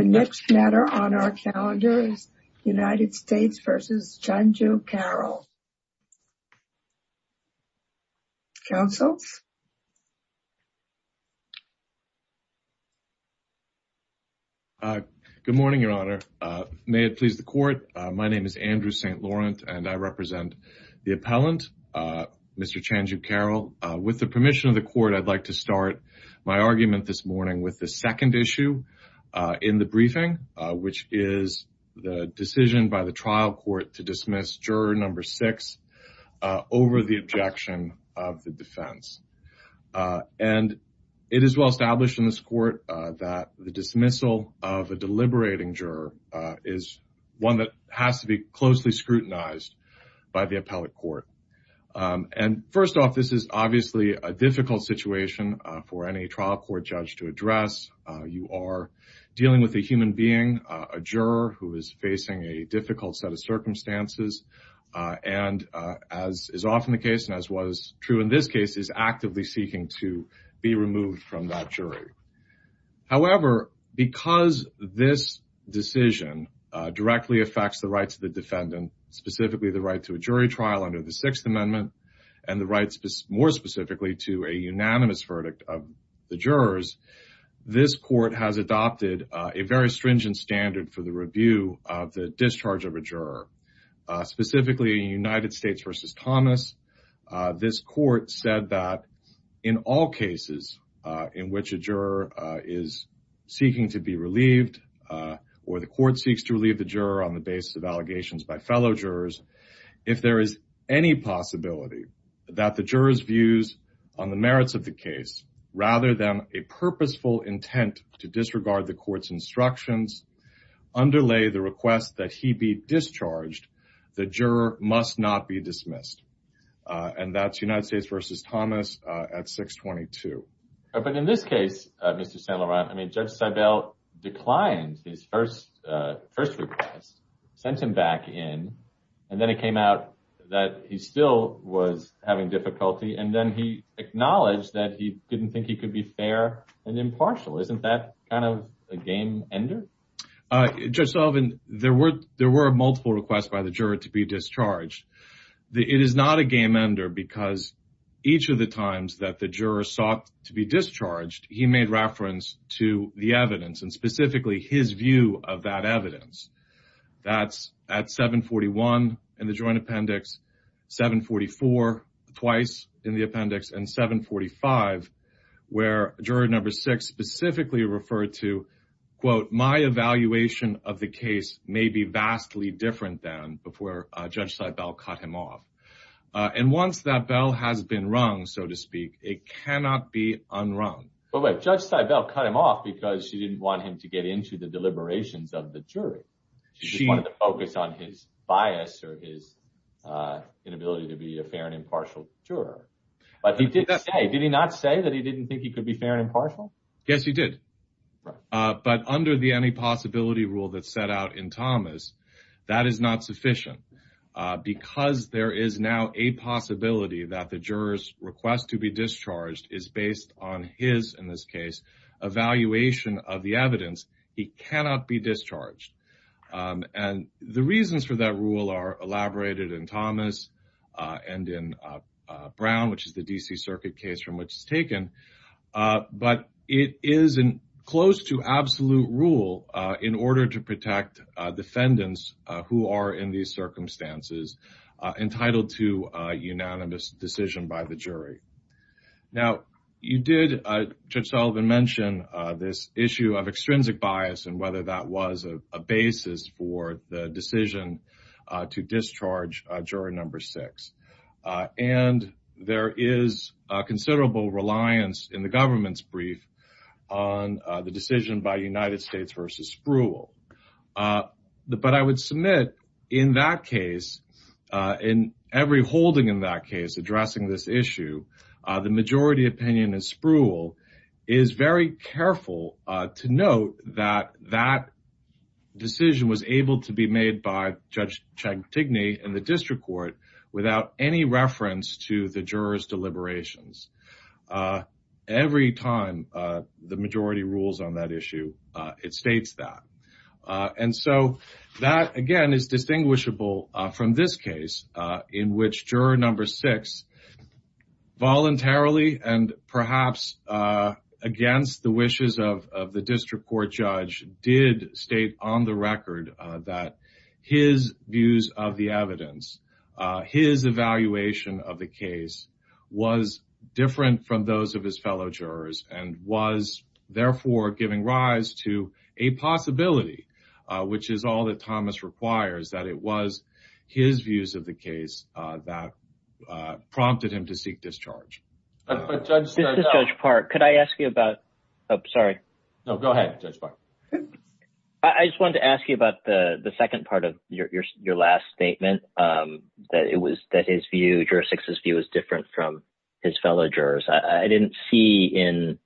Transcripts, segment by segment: The next matter on our calendar is United States v. Chanju Carroll. Councils? Good morning, Your Honor, may it please the Court. My name is Andrew St. Laurent and I represent the appellant, Mr. Chanju Carroll. With the permission of the Court, I'd like to start my argument this morning with the which is the decision by the trial court to dismiss juror number six over the objection of the defense. And it is well established in this court that the dismissal of a deliberating juror is one that has to be closely scrutinized by the appellate court. And first off, this is obviously a difficult situation for any trial court judge to address. You are dealing with a human being, a juror who is facing a difficult set of circumstances, and as is often the case, and as was true in this case, is actively seeking to be removed from that jury. However, because this decision directly affects the rights of the defendant, specifically the right to a jury trial under the Sixth Amendment, and the rights more specifically to a unanimous verdict of the jurors, this court has adopted a very stringent standard for the review of the discharge of a juror. Specifically in United States v. Thomas, this court said that in all cases in which a juror is seeking to be relieved, or the court seeks to relieve the juror on the basis of allegations by fellow jurors, if there is any possibility that the juror's views on the merits of the case, rather than a purposeful intent to disregard the court's instructions, underlay the request that he be discharged, the juror must not be dismissed. And that's United States v. Thomas at 622. But in this case, Mr. St. Laurent, I mean, Judge Seibel declined his first request, sent him back in, and then it came out that he still was having difficulty, and then he acknowledged that he didn't think he could be fair and impartial. Isn't that kind of a game ender? Judge Sullivan, there were multiple requests by the juror to be discharged. It is not a game ender, because each of the times that the juror sought to be discharged, he made reference to the evidence, and specifically his view of that evidence. That's at 741 in the joint appendix, 744 twice in the appendix, and 745, where juror number six specifically referred to, quote, my evaluation of the case may be vastly different than before Judge Seibel cut him off. And once that bell has been rung, so to speak, it cannot be unrung. But wait, Judge Seibel cut him off because she didn't want him to get into the deliberations of the jury. She just wanted to focus on his bias or his inability to be a fair and impartial juror. But he did say, did he not say that he didn't think he could be fair and impartial? Yes, he did. But under the any possibility rule that's set out in Thomas, that is not sufficient. Because there is now a possibility that the juror's request to be discharged is based on his, in this case, evaluation of the evidence. He cannot be discharged. And the reasons for that rule are elaborated in Thomas and in Brown, which is the D.C. Circuit case from which it's taken. But it is in close to absolute rule in order to protect defendants who are in these circumstances entitled to unanimous decision by the jury. Now, you did, Judge Sullivan, mention this issue of extrinsic bias and whether that was a basis for the decision to discharge juror number six. And there is considerable reliance in the government's brief on the decision by United States v. Spruill. But I would submit, in that case, in every holding in that case addressing this issue, the majority opinion in Spruill is very careful to note that that decision was able to be made by Judge Chantigny in the district court without any reference to the juror's deliberations. Every time the majority rules on that issue, it states that. And so that, again, is distinguishable from this case in which juror number six voluntarily and perhaps against the wishes of the district court judge did state on the record that his views of the evidence, his evaluation of the case was different from those of his fellow jurors and was, therefore, giving rise to a possibility, which is all that Thomas requires, that it was his views of the case that prompted him to seek discharge. But Judge Park, could I ask you about, oh, sorry. No, go ahead, Judge Park. I just wanted to ask you about the second part of your last statement, that it was that his view, juror six's view, was different from his fellow jurors. I didn't see in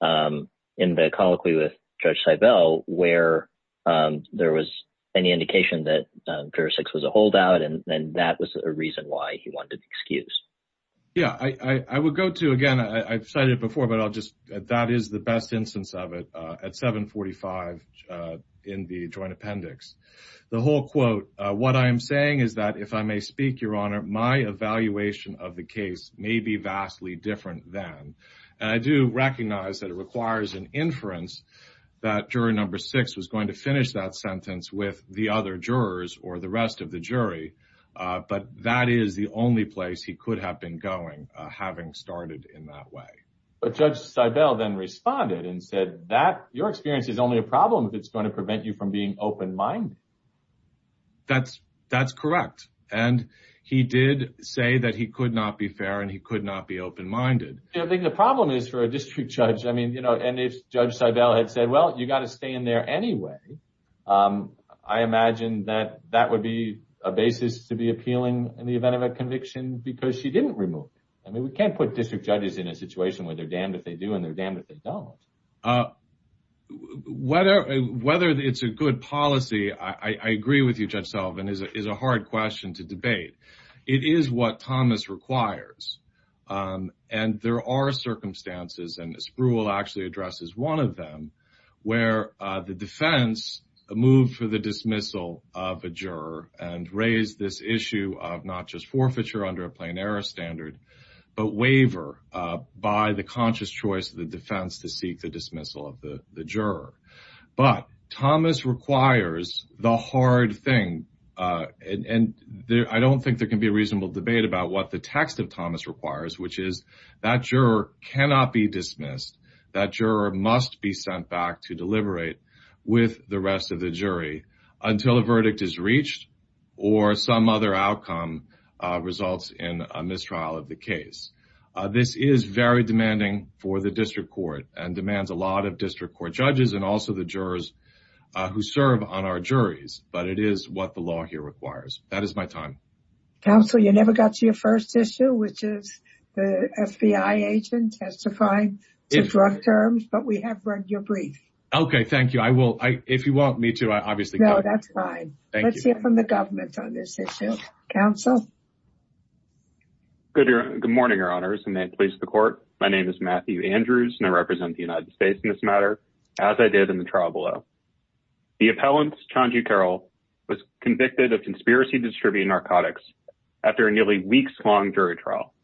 the colloquy with Judge Seibel where there was any indication that juror six was a holdout, and that was a reason why he wanted an excuse. Yeah, I would go to, again, I've cited it before, but that is the best instance of it, at 745 in the joint appendix. The whole quote, what I am saying is that, if I may speak, Your Honor, my evaluation of the case may be vastly different then. And I do recognize that it requires an inference that juror number six was going to finish that sentence with the other jurors or the rest of the jury, but that is the only place he could have been going, having started in that way. But Judge Seibel then responded and said that your experience is only a problem if it's going to prevent you from being open-minded. That's correct. And he did say that he could not be fair and he could not be open-minded. I think the problem is for a district judge, I mean, you know, and if Judge Seibel had said, well, you got to stay in there anyway, I imagine that that would be a basis to be appealing in the event of a conviction because she didn't remove him. I mean, we can't put district judges in a situation where they're damned if they do and they're damned if they don't. So, whether it's a good policy, I agree with you, Judge Sullivan, is a hard question to debate. It is what Thomas requires. And there are circumstances, and Spruill actually addresses one of them, where the defense moved for the dismissal of a juror and raised this issue of not just forfeiture under a plain error standard, but waiver by the conscious choice of the defense to seek the dismissal of the juror. But Thomas requires the hard thing, and I don't think there can be a reasonable debate about what the text of Thomas requires, which is that juror cannot be dismissed. That juror must be sent back to deliberate with the rest of the jury until a verdict is reached or some other outcome results in a mistrial of the case. This is very demanding for the district court and demands a lot of district court judges and also the jurors who serve on our juries, but it is what the law here requires. That is my time. Counsel, you never got to your first issue, which is the FBI agent testifying to drug terms, but we have read your brief. Okay, thank you. I will, if you want me to, I obviously can. No, that's fine. Let's hear from the government on this issue. Counsel. Good morning, Your Honors, and may it please the court. My name is Matthew Andrews, and I represent the United States in this matter, as I did in the trial below. The appellant, Chanju Carroll, was convicted of conspiracy to distribute narcotics after a nearly weeks-long jury trial.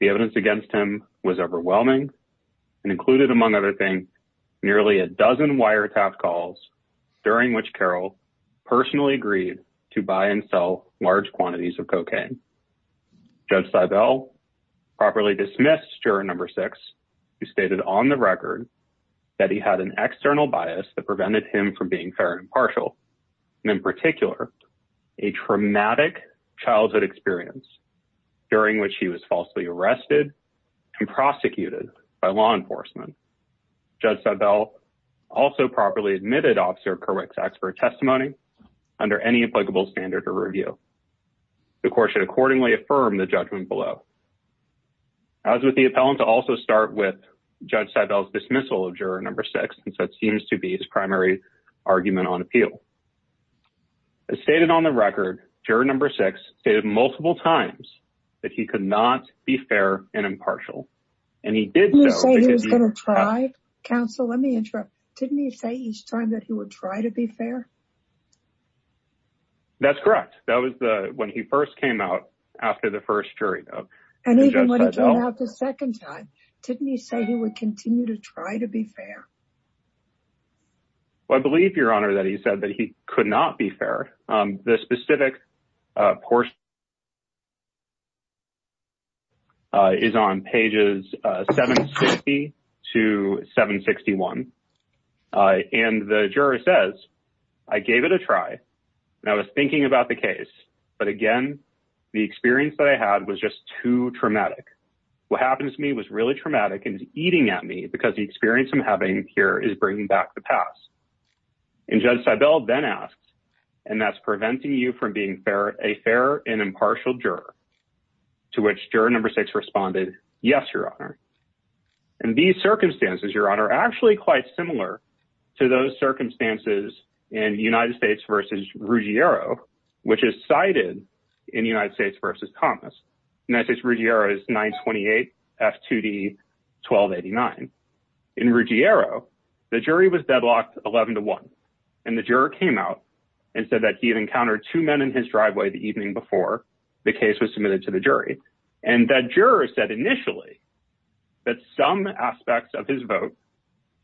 The evidence against him was overwhelming and included, among other things, nearly a to buy and sell large quantities of cocaine. Judge Seibel properly dismissed juror number six, who stated on the record that he had an external bias that prevented him from being fair and impartial, and in particular, a traumatic childhood experience during which he was falsely arrested and prosecuted by law enforcement. Judge Seibel also properly admitted Officer Kerwick's expert testimony under any applicable standard of review. The court should accordingly affirm the judgment below. As with the appellant, I'll also start with Judge Seibel's dismissal of juror number six, since that seems to be his primary argument on appeal. As stated on the record, juror number six stated multiple times that he could not be fair and impartial, and he did so because he— Counsel, let me interrupt. Didn't he say each time that he would try to be fair? That's correct. That was when he first came out after the first jury vote. And even when he came out the second time, didn't he say he would continue to try to be fair? Well, I believe, Your Honor, that he said that he could not be fair. The specific portion is on pages 760 to 761. And the juror says, I gave it a try, and I was thinking about the case. But again, the experience that I had was just too traumatic. What happened to me was really traumatic and is eating at me because the experience I'm having here is bringing back the past. And Judge Seibel then asked, and that's preventing you from being a fair and impartial juror, to which juror number six responded, yes, Your Honor. And these circumstances, Your Honor, are actually quite similar to those circumstances in United States v. Ruggiero, which is cited in United States v. Thomas. United States v. Ruggiero is 928 F2D 1289. In Ruggiero, the jury was deadlocked 11 to 1, and the juror came out and said that he had encountered two men in his driveway the evening before the case was submitted to the jury. And that juror said initially that some aspects of his vote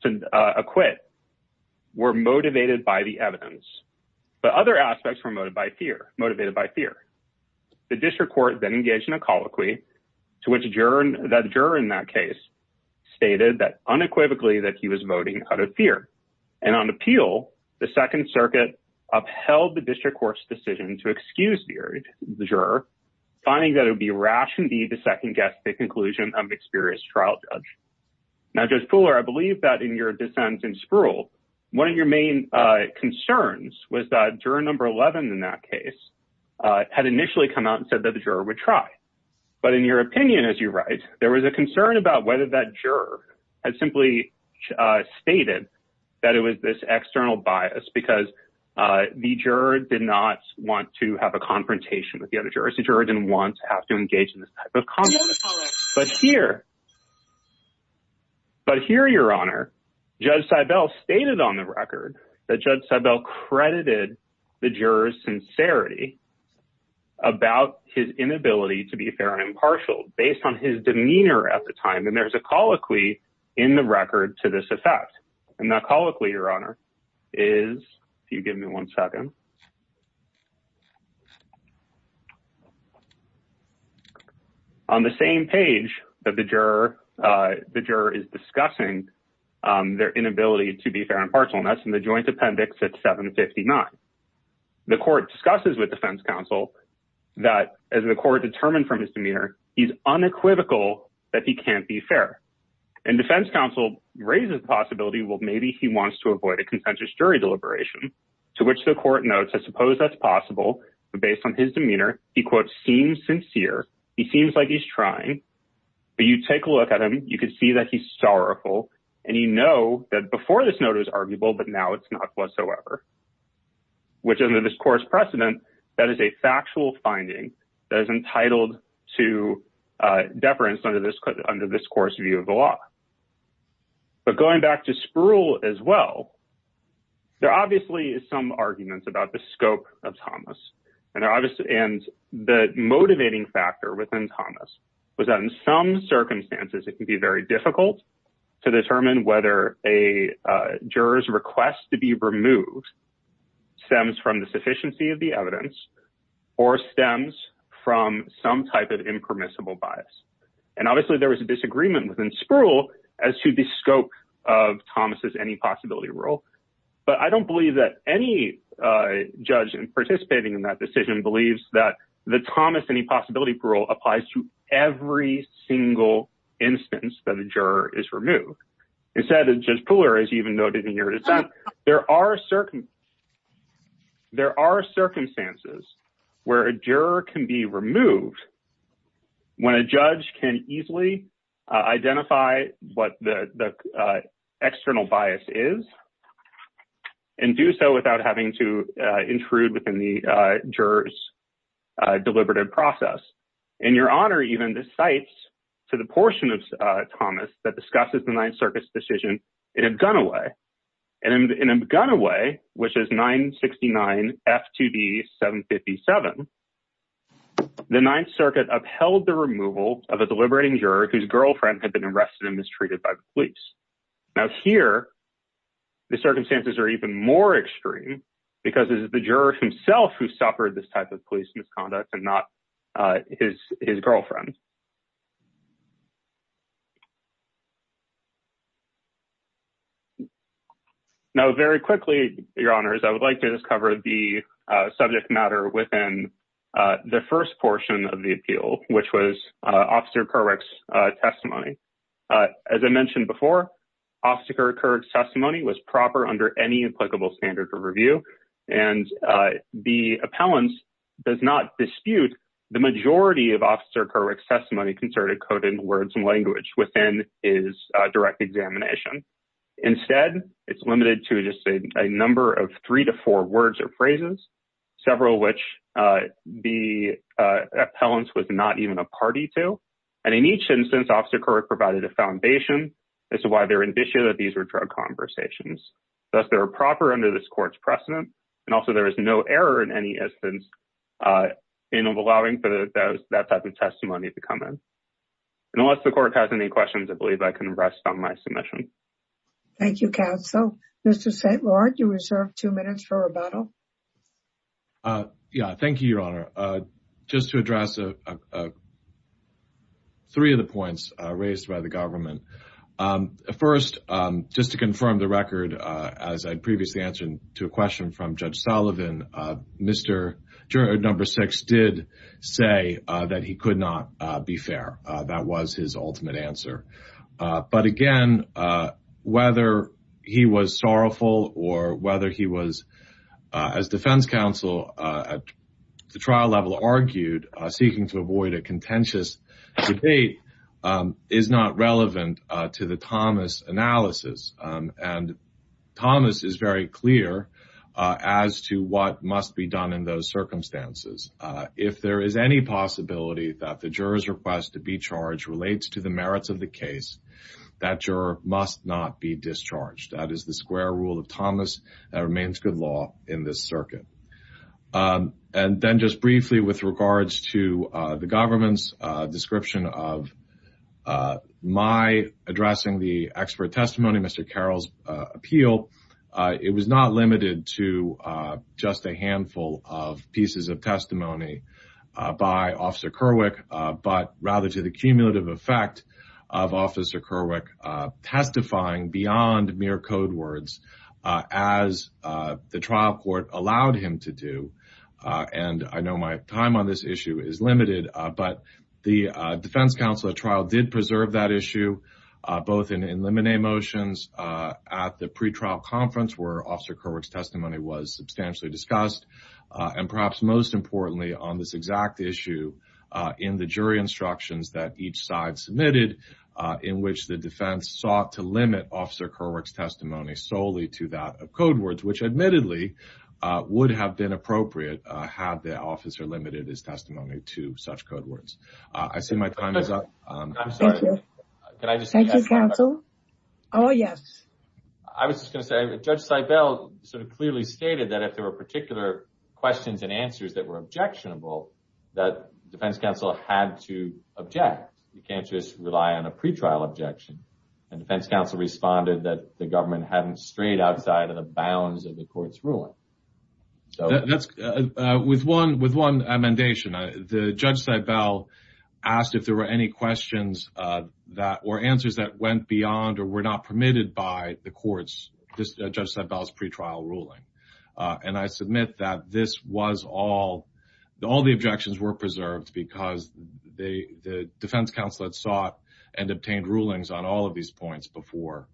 to acquit were motivated by the evidence, but other aspects were motivated by fear. The district court then engaged in a colloquy to which the juror in that case stated that unequivocally that he was voting out of fear. And on appeal, the Second Circuit upheld the district court's decision to excuse the juror, finding that it would be rash indeed to second-guess the conclusion of an experienced trial judge. Now, Judge Pooler, I believe that in your dissent in Sproul, one of your main concerns was that juror number 11 in that case had initially come out and said that the juror would try. But in your opinion, as you write, there was a concern about whether that juror had simply stated that it was this external bias because the juror did not want to have a confrontation with the other jurors. The juror didn't want to have to engage in this type of conflict. But here, but here, Your Honor, Judge Seibel stated on the record that Judge Seibel credited the juror's sincerity about his inability to be fair and impartial based on his demeanor at the time. And there's a colloquy in the record to this effect. And that colloquy, Your Honor, is, if you give me one second, on the same page that the juror is discussing their inability to be fair and impartial, and that's in the joint appendix at 759. The court discusses with defense counsel that as the court determined from his demeanor, he's unequivocal that he can't be fair. And defense counsel raises the possibility, well, maybe he wants to avoid a contentious jury deliberation, to which the court notes, I suppose that's possible. But based on his demeanor, he, quote, seems sincere. He seems like he's trying. But you take a look at him, you can see that he's sorrowful. And you know that before this note is arguable, but now it's not whatsoever. Which under this court's precedent, that is a factual finding that is entitled to deference under this court's view of the law. But going back to Spruill as well, there are obviously some arguments about the scope of Thomas, and the motivating factor within Thomas was that in some circumstances, it can be very difficult to determine whether a juror's request to be removed stems from the sufficiency of the evidence or stems from some type of impermissible bias. And obviously, there was a disagreement within Spruill as to the scope of Thomas's any-possibility rule. But I don't believe that any judge participating in that decision believes that the Thomas any-possibility rule applies to every single instance that a juror is removed. Instead, Judge Pooler has even noted in your dissent, there are circumstances where a juror can be removed when a judge can easily identify what the external bias is and do so without having to intrude within the juror's deliberative process. In your honor, even, this cites to the portion of Thomas that discusses the Ninth Circuit's decision in a gunner way. And in a gunner way, which is 969 F2B 757, the Ninth Circuit upheld the removal of a deliberating juror whose girlfriend had been arrested and mistreated by the police. Now here, the circumstances are even more extreme because it is the juror himself who suffered this type of police misconduct and not his girlfriend. Now very quickly, your honors, I would like to just cover the subject matter within the first portion of the appeal, which was Officer Kerwick's testimony. As I mentioned before, Officer Kerwick's testimony was proper under any applicable standard of review. And the appellant does not dispute the majority of Officer Kerwick's testimony concerning coded words and language within his direct examination. Instead, it's limited to just a number of three to four words or phrases, several of which the appellant was not even a party to. And in each instance, Officer Kerwick provided a foundation as to why they're indicia that these were drug conversations. Thus, they're proper under this court's precedent. And also, there is no error in any instance in allowing for that type of testimony to come in. And unless the court has any questions, I believe I can rest on my submission. Thank you, counsel. Mr. St. Laurent, you reserve two minutes for rebuttal. Yeah. Thank you, your honor. Just to address three of the points raised by the government. First, just to confirm the record, as I previously answered to a question from Judge Sullivan, Mr. Number six did say that he could not be fair. That was his ultimate answer. But again, whether he was sorrowful or whether he was, as defense counsel at the trial level argued, seeking to avoid a contentious debate is not relevant to the Thomas analysis. And Thomas is very clear as to what must be done in those circumstances. If there is any possibility that the juror's request to be charged relates to the merits of the case, that juror must not be discharged. That is the square rule of Thomas that remains good law in this circuit. And then just briefly with regards to the government's description of my addressing the expert testimony, Mr. Carroll's appeal, it was not limited to just a handful of pieces of testimony by Officer Kerwick, but rather to the cumulative effect of Officer Kerwick testifying beyond mere code words as the trial court allowed him to do. And I know my time on this issue is limited, but the defense counsel at trial did preserve that issue, both in limine motions at the pre-trial conference where Officer Kerwick's substantially discussed, and perhaps most importantly on this exact issue in the jury instructions that each side submitted, in which the defense sought to limit Officer Kerwick's testimony solely to that of code words, which admittedly would have been appropriate had the officer limited his testimony to such code words. I see my time is up. Can I just thank you, counsel? Oh, yes. I was just going to say that Judge Seibel sort of clearly stated that if there were particular questions and answers that were objectionable, that defense counsel had to object. You can't just rely on a pre-trial objection. And defense counsel responded that the government hadn't strayed outside of the bounds of the court's ruling. With one amendation, Judge Seibel asked if there were any questions or answers that went beyond or were not permitted by the court's, Judge Seibel's pre-trial ruling. And I submit that this was all, all the objections were preserved because the defense counsel had sought and obtained rulings on all of these points before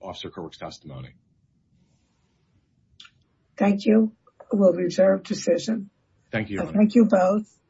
Officer Kerwick's testimony. Thank you. We'll reserve decision. Thank you. Thank you both.